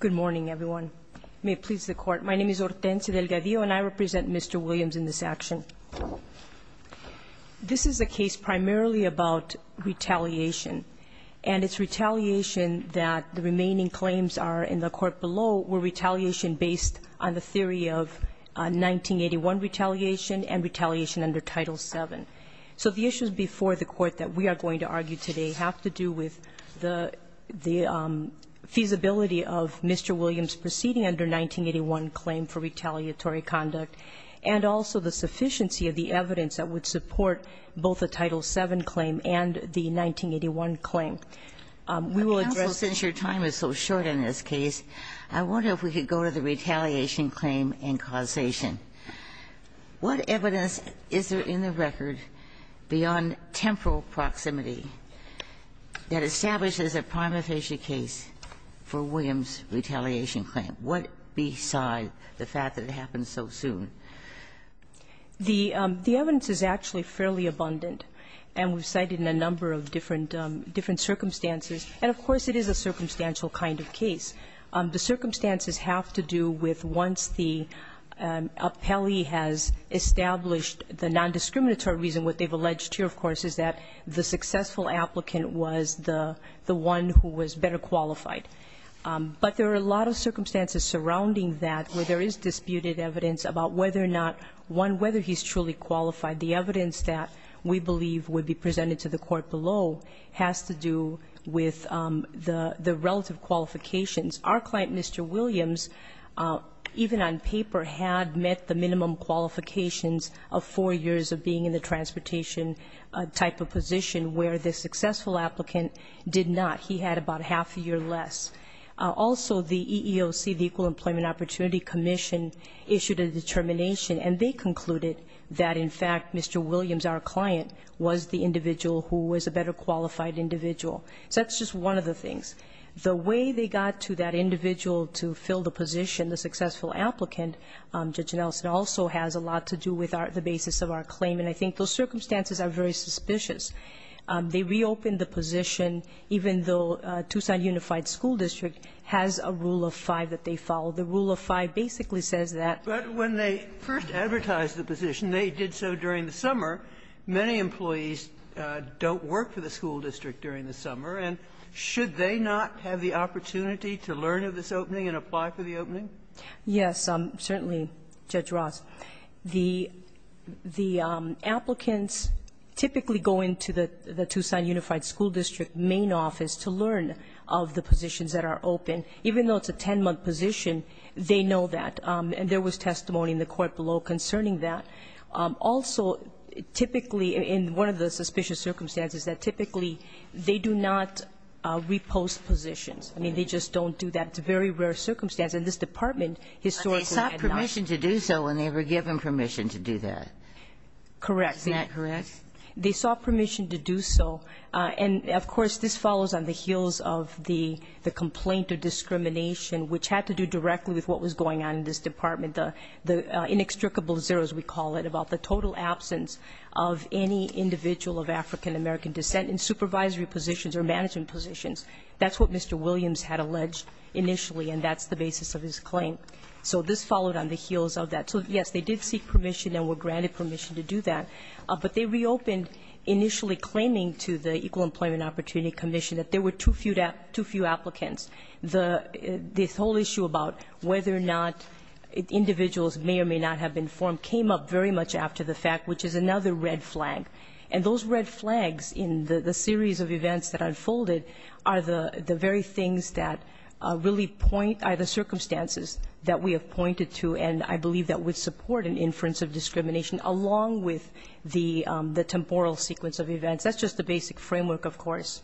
Good morning, everyone. May it please the Court. My name is Hortensia Delgadillo, and I represent Mr. Williams in this action. This is a case primarily about retaliation, and it's retaliation that the remaining claims are in the Court below were retaliation based on the theory of 1981 retaliation and retaliation under Title VII. So the issues before the Court that we are going to argue today have to do with the feasibility of Mr. Williams proceeding under 1981 claim for retaliatory conduct and also the sufficiency of the evidence that would support both the Title VII claim and the 1981 claim. We will address the issues that we are going to argue today. Kagan, since your time is so short in this case, I wonder if we could go to the retaliation claim and causation. What evidence is there in the record beyond temporal proximity that establishes a prima facie case for Williams' retaliation claim? What beside the fact that it happened so soon? The evidence is actually fairly abundant, and we've cited a number of different circumstances. And, of course, it is a circumstantial kind of case. The circumstances have to do with once the appellee has established the nondiscriminatory reason. What they've alleged here, of course, is that the successful applicant was the one who was better qualified. But there are a lot of circumstances surrounding that where there is disputed evidence about whether or not, one, whether he's truly qualified. The evidence that we believe would be presented to the court below has to do with the relative qualifications. Our client, Mr. Williams, even on paper, had met the minimum qualifications of four years of being in the transportation type of position, where the successful applicant did not. He had about half a year less. Also, the EEOC, the Equal Employment Opportunity Commission, issued a determination. And they concluded that, in fact, Mr. Williams, our client, was the individual who was a better qualified individual. So that's just one of the things. The way they got to that individual to fill the position, the successful applicant, Judge Nelson, also has a lot to do with the basis of our claim. And I think those circumstances are very suspicious. They reopened the position, even though Tucson Unified School District has a rule of five that they follow. The rule of five basically says that. But when they first advertised the position, they did so during the summer. Many employees don't work for the school district during the summer. And should they not have the opportunity to learn of this opening and apply for the opening? Yes, certainly, Judge Ross. The applicants typically go into the Tucson Unified School District main office to learn of the positions that are open. Even though it's a 10-month position, they know that. And there was testimony in the court below concerning that. Also, typically, in one of the suspicious circumstances, that typically they do not repost positions. I mean, they just don't do that. It's a very rare circumstance. And this Department historically had not. They saw permission to do so when they were given permission to do that. Correct. Isn't that correct? They saw permission to do so. And, of course, this follows on the heels of the complaint of discrimination, which had to do directly with what was going on in this Department, the inextricable zero, as we call it, about the total absence of any individual of African-American descent in supervisory positions or management positions. That's what Mr. Williams had alleged initially, and that's the basis of his claim. So this followed on the heels of that. So, yes, they did seek permission and were granted permission to do that. But they reopened initially claiming to the Equal Employment Opportunity Commission that there were too few applicants. The whole issue about whether or not individuals may or may not have been formed came up very much after the fact, which is another red flag. And those red flags in the series of events that unfolded are the very things that really point, are the circumstances that we have pointed to and I believe that would support an inference of discrimination, along with the temporal sequence of events. That's just the basic framework, of course.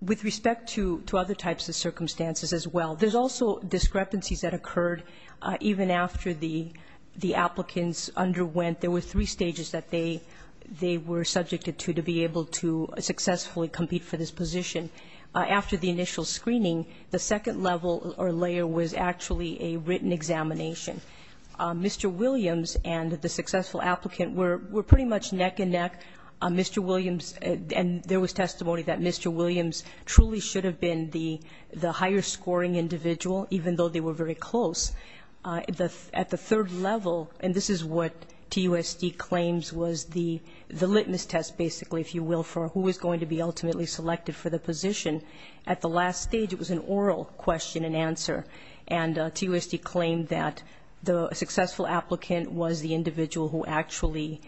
With respect to other types of circumstances as well, there's also discrepancies that occurred even after the applicants underwent. There were three stages that they were subjected to to be able to successfully compete for this position. After the initial screening, the second level or layer was actually a written examination. Mr. Williams and the successful applicant were pretty much neck and neck. Mr. Williams, and there was testimony that Mr. Williams truly should have been the higher scoring individual, even though they were very close. At the third level, and this is what TUSD claims was the litmus test, basically, if you will, for who was going to be ultimately selected for the position. At the last stage, it was an oral question and answer, and TUSD claimed that the successful applicant was the individual who actually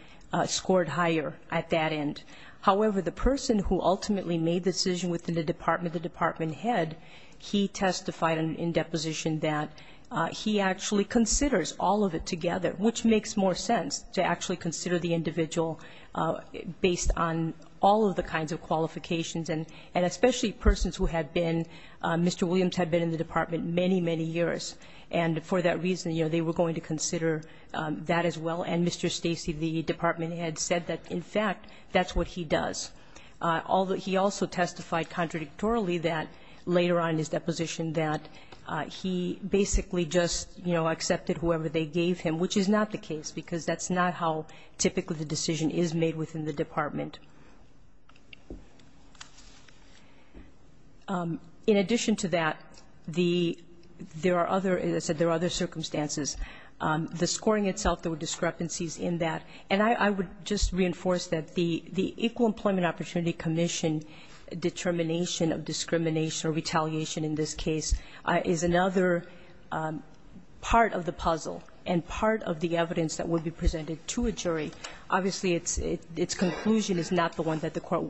scored higher at that end. However, the person who ultimately made the decision within the department, the department head, he testified in deposition that he actually considers all of it together, which makes more sense to actually consider the individual based on all of the kinds of qualifications, and especially persons who have been Mr. Williams had been in the department many, many years. And for that reason, you know, they were going to consider that as well. And Mr. Stacey, the department head, said that, in fact, that's what he does. He also testified contradictorily that later on in his deposition that he basically just, you know, accepted whoever they gave him, which is not the case, because that's not how typically the decision is made within the department. In addition to that, there are other, as I said, there are other circumstances. The scoring itself, there were discrepancies in that. And I would just reinforce that the Equal Employment Opportunity Commission determination of discrimination or retaliation in this case is another part of the puzzle and part of the evidence that would be presented to a jury. Obviously, its conclusion is not the one that the court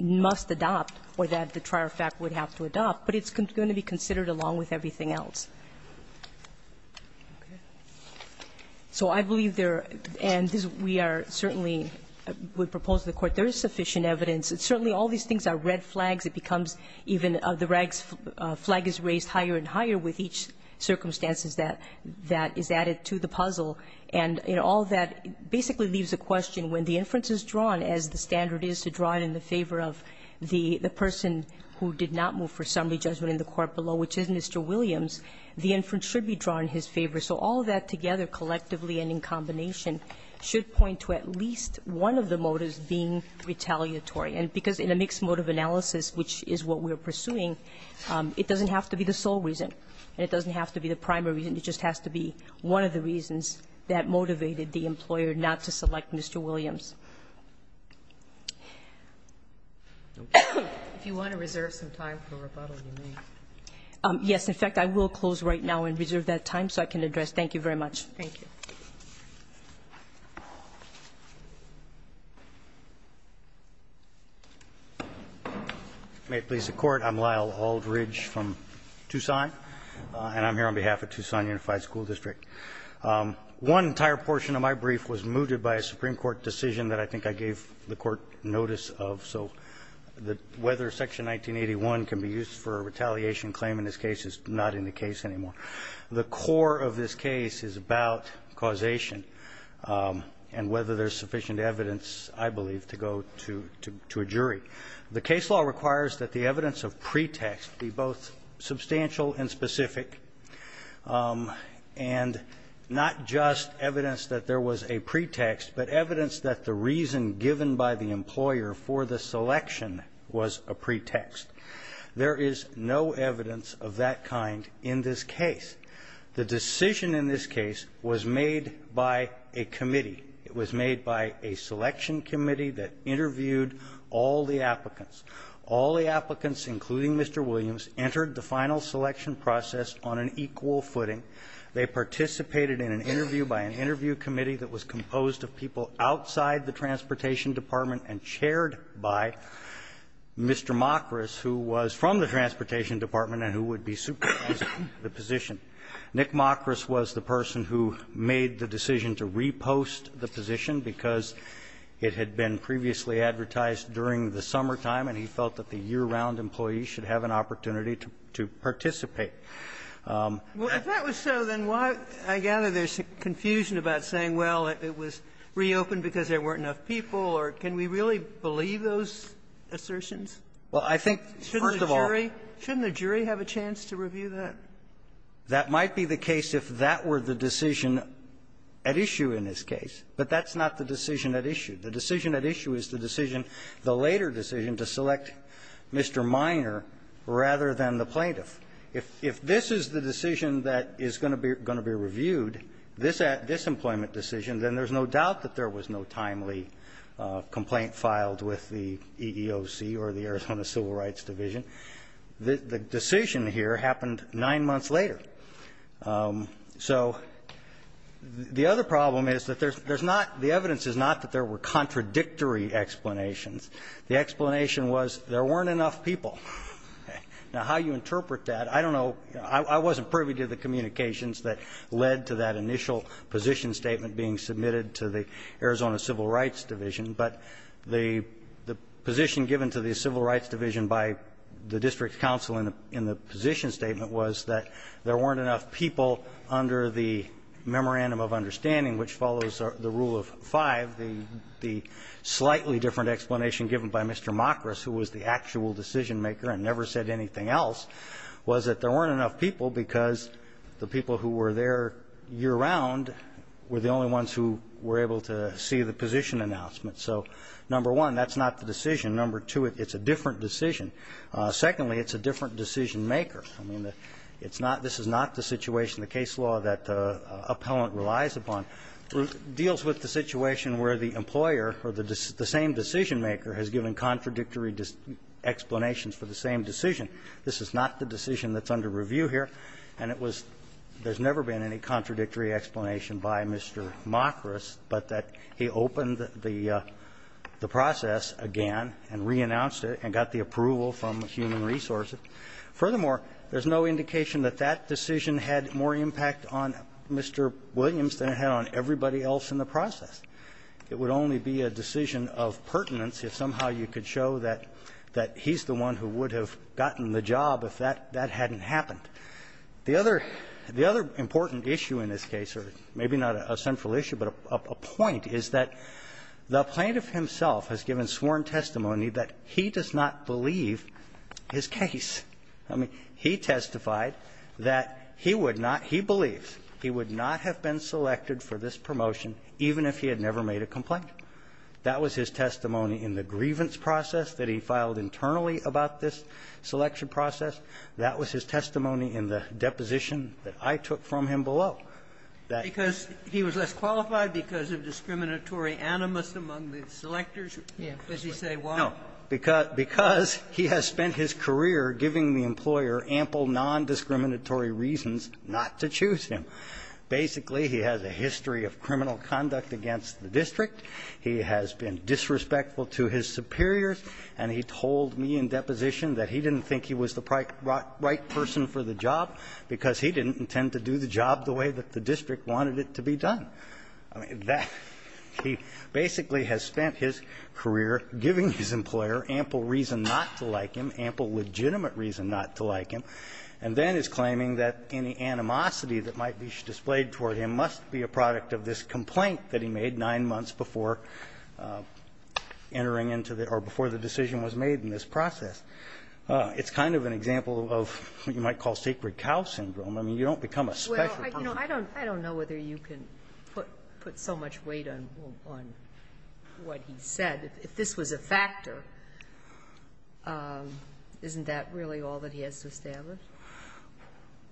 must adopt or that the trier of fact would have to adopt, but it's going to be considered along with everything else. So I believe there are, and we are certainly, we propose to the Court there is sufficient evidence. Certainly, all these things are red flags. It becomes even the red flag is raised higher and higher with each circumstances that is added to the puzzle. And all that basically leaves a question, when the inference is drawn, as the standard is to draw it in the favor of the person who did not move for summary judgment in the court below, which is Mr. Williams, the inference should be drawn in his favor. So all that together collectively and in combination should point to at least one of the motives being retaliatory. And because in a mixed motive analysis, which is what we are pursuing, it doesn't have to be the sole reason and it doesn't have to be the primary reason. It just has to be one of the reasons that motivated the employer not to select Mr. Williams. If you want to reserve some time for rebuttal, you may. Yes. In fact, I will close right now and reserve that time so I can address. Thank you very much. Thank you. May it please the Court. I'm Lyle Aldridge from Tucson. And I'm here on behalf of Tucson Unified School District. One entire portion of my brief was mooted by a Supreme Court decision that I think I gave the Court notice of. So whether Section 1981 can be used for a retaliation claim in this case is not in the case anymore. The core of this case is about causation and whether there's sufficient evidence, I believe, to go to a jury. The case law requires that the evidence of pretext be both substantial and specific and not just evidence that there was a pretext but evidence that the reason given by the employer for the selection was a pretext. There is no evidence of that kind in this case. The decision in this case was made by a committee. It was made by a selection committee that interviewed all the applicants. All the applicants, including Mr. Williams, entered the final selection process on an equal footing. They participated in an interview by an interview committee that was composed of people outside the Transportation Department and chaired by Mr. Mockrus, who was from the Transportation Department and who would be supervising the position. Nick Mockrus was the person who made the decision to repost the position because it had been previously advertised during the summertime, and he felt that the year-round employee should have an opportunity to participate. Well, if that was so, then why, I gather, there's confusion about saying, well, it was reopened because there weren't enough people, or can we really believe those assertions? Well, I think, first of all, shouldn't the jury have a chance to review that? That might be the case if that were the decision at issue in this case, but that's not the decision at issue. The decision at issue is the decision, the later decision, to select Mr. Minor rather than the plaintiff. If this is the decision that is going to be reviewed, this employment decision, then there's no doubt that there was no timely complaint filed with the EEOC or the Arizona Civil Rights Division. The decision here happened nine months later. So the other problem is that there's not the evidence is not that there were contradictory explanations. The explanation was there weren't enough people. Now, how you interpret that, I don't know. I wasn't privy to the communications that led to that initial position statement being submitted to the Arizona Civil Rights Division, but the position given to the under the memorandum of understanding, which follows the rule of five, the slightly different explanation given by Mr. Mockrus, who was the actual decision-maker and never said anything else, was that there weren't enough people because the people who were there year-round were the only ones who were able to see the position announcement. So, number one, that's not the decision. Number two, it's a different decision. Secondly, it's a different decision-maker. I mean, it's not this is not the situation, the case law that appellant relies upon deals with the situation where the employer or the same decision-maker has given contradictory explanations for the same decision. This is not the decision that's under review here. And it was there's never been any contradictory explanation by Mr. Mockrus, but that he opened the process again and reannounced it and got the approval from human resources. Furthermore, there's no indication that that decision had more impact on Mr. Williams than it had on everybody else in the process. It would only be a decision of pertinence if somehow you could show that he's the one who would have gotten the job if that hadn't happened. The other important issue in this case, or maybe not a central issue but a point, is that the plaintiff himself has given sworn testimony that he does not believe his case. I mean, he testified that he would not he believes he would not have been selected for this promotion even if he had never made a complaint. That was his testimony in the grievance process that he filed internally about this selection process. That was his testimony in the deposition that I took from him below. That he was less qualified because of discriminatory animus among the selectors. As you say, why? No. Because he has spent his career giving the employer ample nondiscriminatory reasons not to choose him. Basically, he has a history of criminal conduct against the district. He has been disrespectful to his superiors. And he told me in deposition that he didn't think he was the right person for the job because he didn't intend to do the job the way that the district wanted it to be done. I mean, that he basically has spent his career giving his employer ample reason not to like him, ample legitimate reason not to like him, and then is claiming that any animosity that might be displayed toward him must be a product of this complaint that he made 9 months before entering into the or before the decision was made in this process. It's kind of an example of what you might call sacred cow syndrome. I mean, you don't become a special person. Well, I don't know whether you can put so much weight on what he said. If this was a factor, isn't that really all that he has to establish?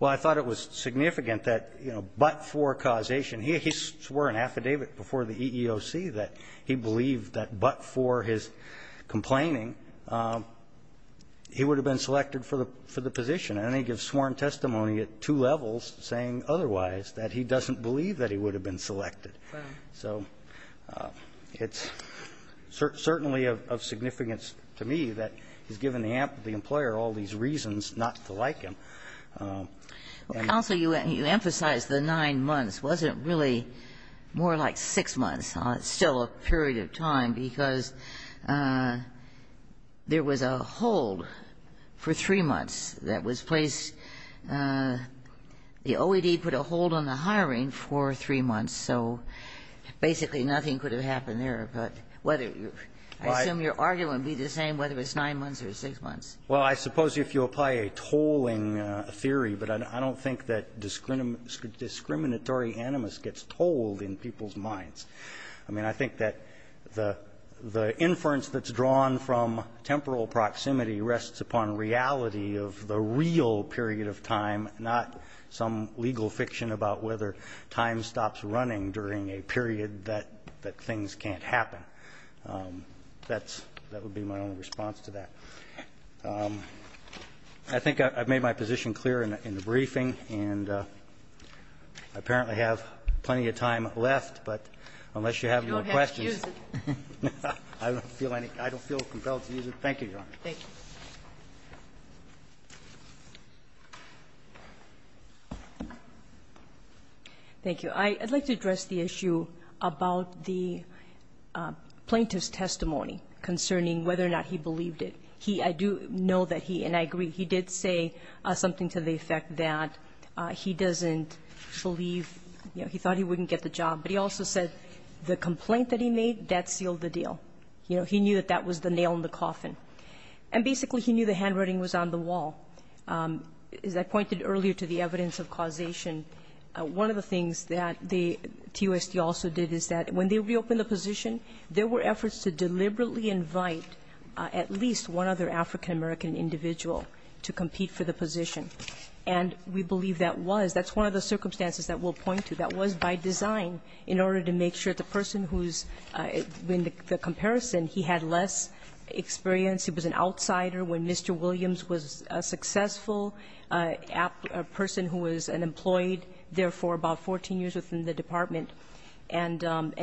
Well, I thought it was significant that, you know, but for causation. He swore an affidavit before the EEOC that he believed that but for his complaining, he would have been selected for the position. And then he gives sworn testimony at two levels saying otherwise, that he doesn't believe that he would have been selected. So it's certainly of significance to me that he's given the employer all these reasons not to like him. Counsel, you emphasize the 9 months wasn't really more like 6 months. It's still a period of time because there was a hold for 3 months that was placed the OED put a hold on the hiring for 3 months. So basically nothing could have happened there. But whether I assume your argument would be the same whether it's 9 months or 6 months. Well, I suppose if you apply a tolling theory, but I don't think that discriminatory animus gets told in people's minds. I mean, I think that the inference that's drawn from temporal proximity rests upon reality of the real period of time, not some legal fiction about whether time stops running during a period that things can't happen. That would be my only response to that. I think I've made my position clear in the briefing, and I apparently have plenty of time left, but unless you have your questions. I don't feel any. I don't feel compelled to use it. Thank you, Your Honor. Thank you. Thank you. I'd like to address the issue about the plaintiff's testimony concerning whether or not he believed it. He, I do know that he, and I agree, he did say something to the effect that he doesn't believe, you know, he thought he wouldn't get the job. But he also said the complaint that he made, that sealed the deal. You know, he knew that that was the nail in the coffin. And basically he knew the handwriting was on the wall. As I pointed earlier to the evidence of causation, one of the things that the TOSD also did is that when they reopened the position, there were efforts to deliberately invite at least one other African-American individual to compete for the position. And we believe that was. That's one of the circumstances that we'll point to. That was by design in order to make sure the person who's in the comparison, he had less experience, he was an outsider when Mr. Williams was a successful person who was an employee there for about 14 years within the department. And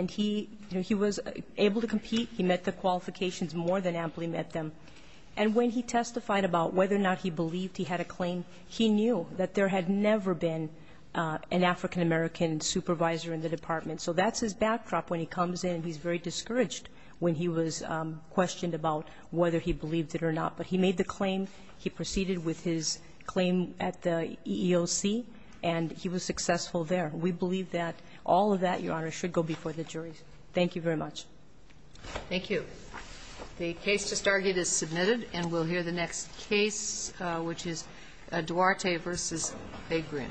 he, you know, he was able to compete. He met the qualifications more than amply met them. And when he testified about whether or not he believed he had a claim, he knew that there had never been an African-American supervisor in the department. So that's his backdrop when he comes in. He's very discouraged when he was questioned about whether he believed it or not. But he made the claim. He proceeded with his claim at the EEOC. And he was successful there. We believe that all of that, Your Honor, should go before the juries. Thank you very much. Thank you. The case just argued is submitted, and we'll hear the next case, which is Duarte v. A. Green.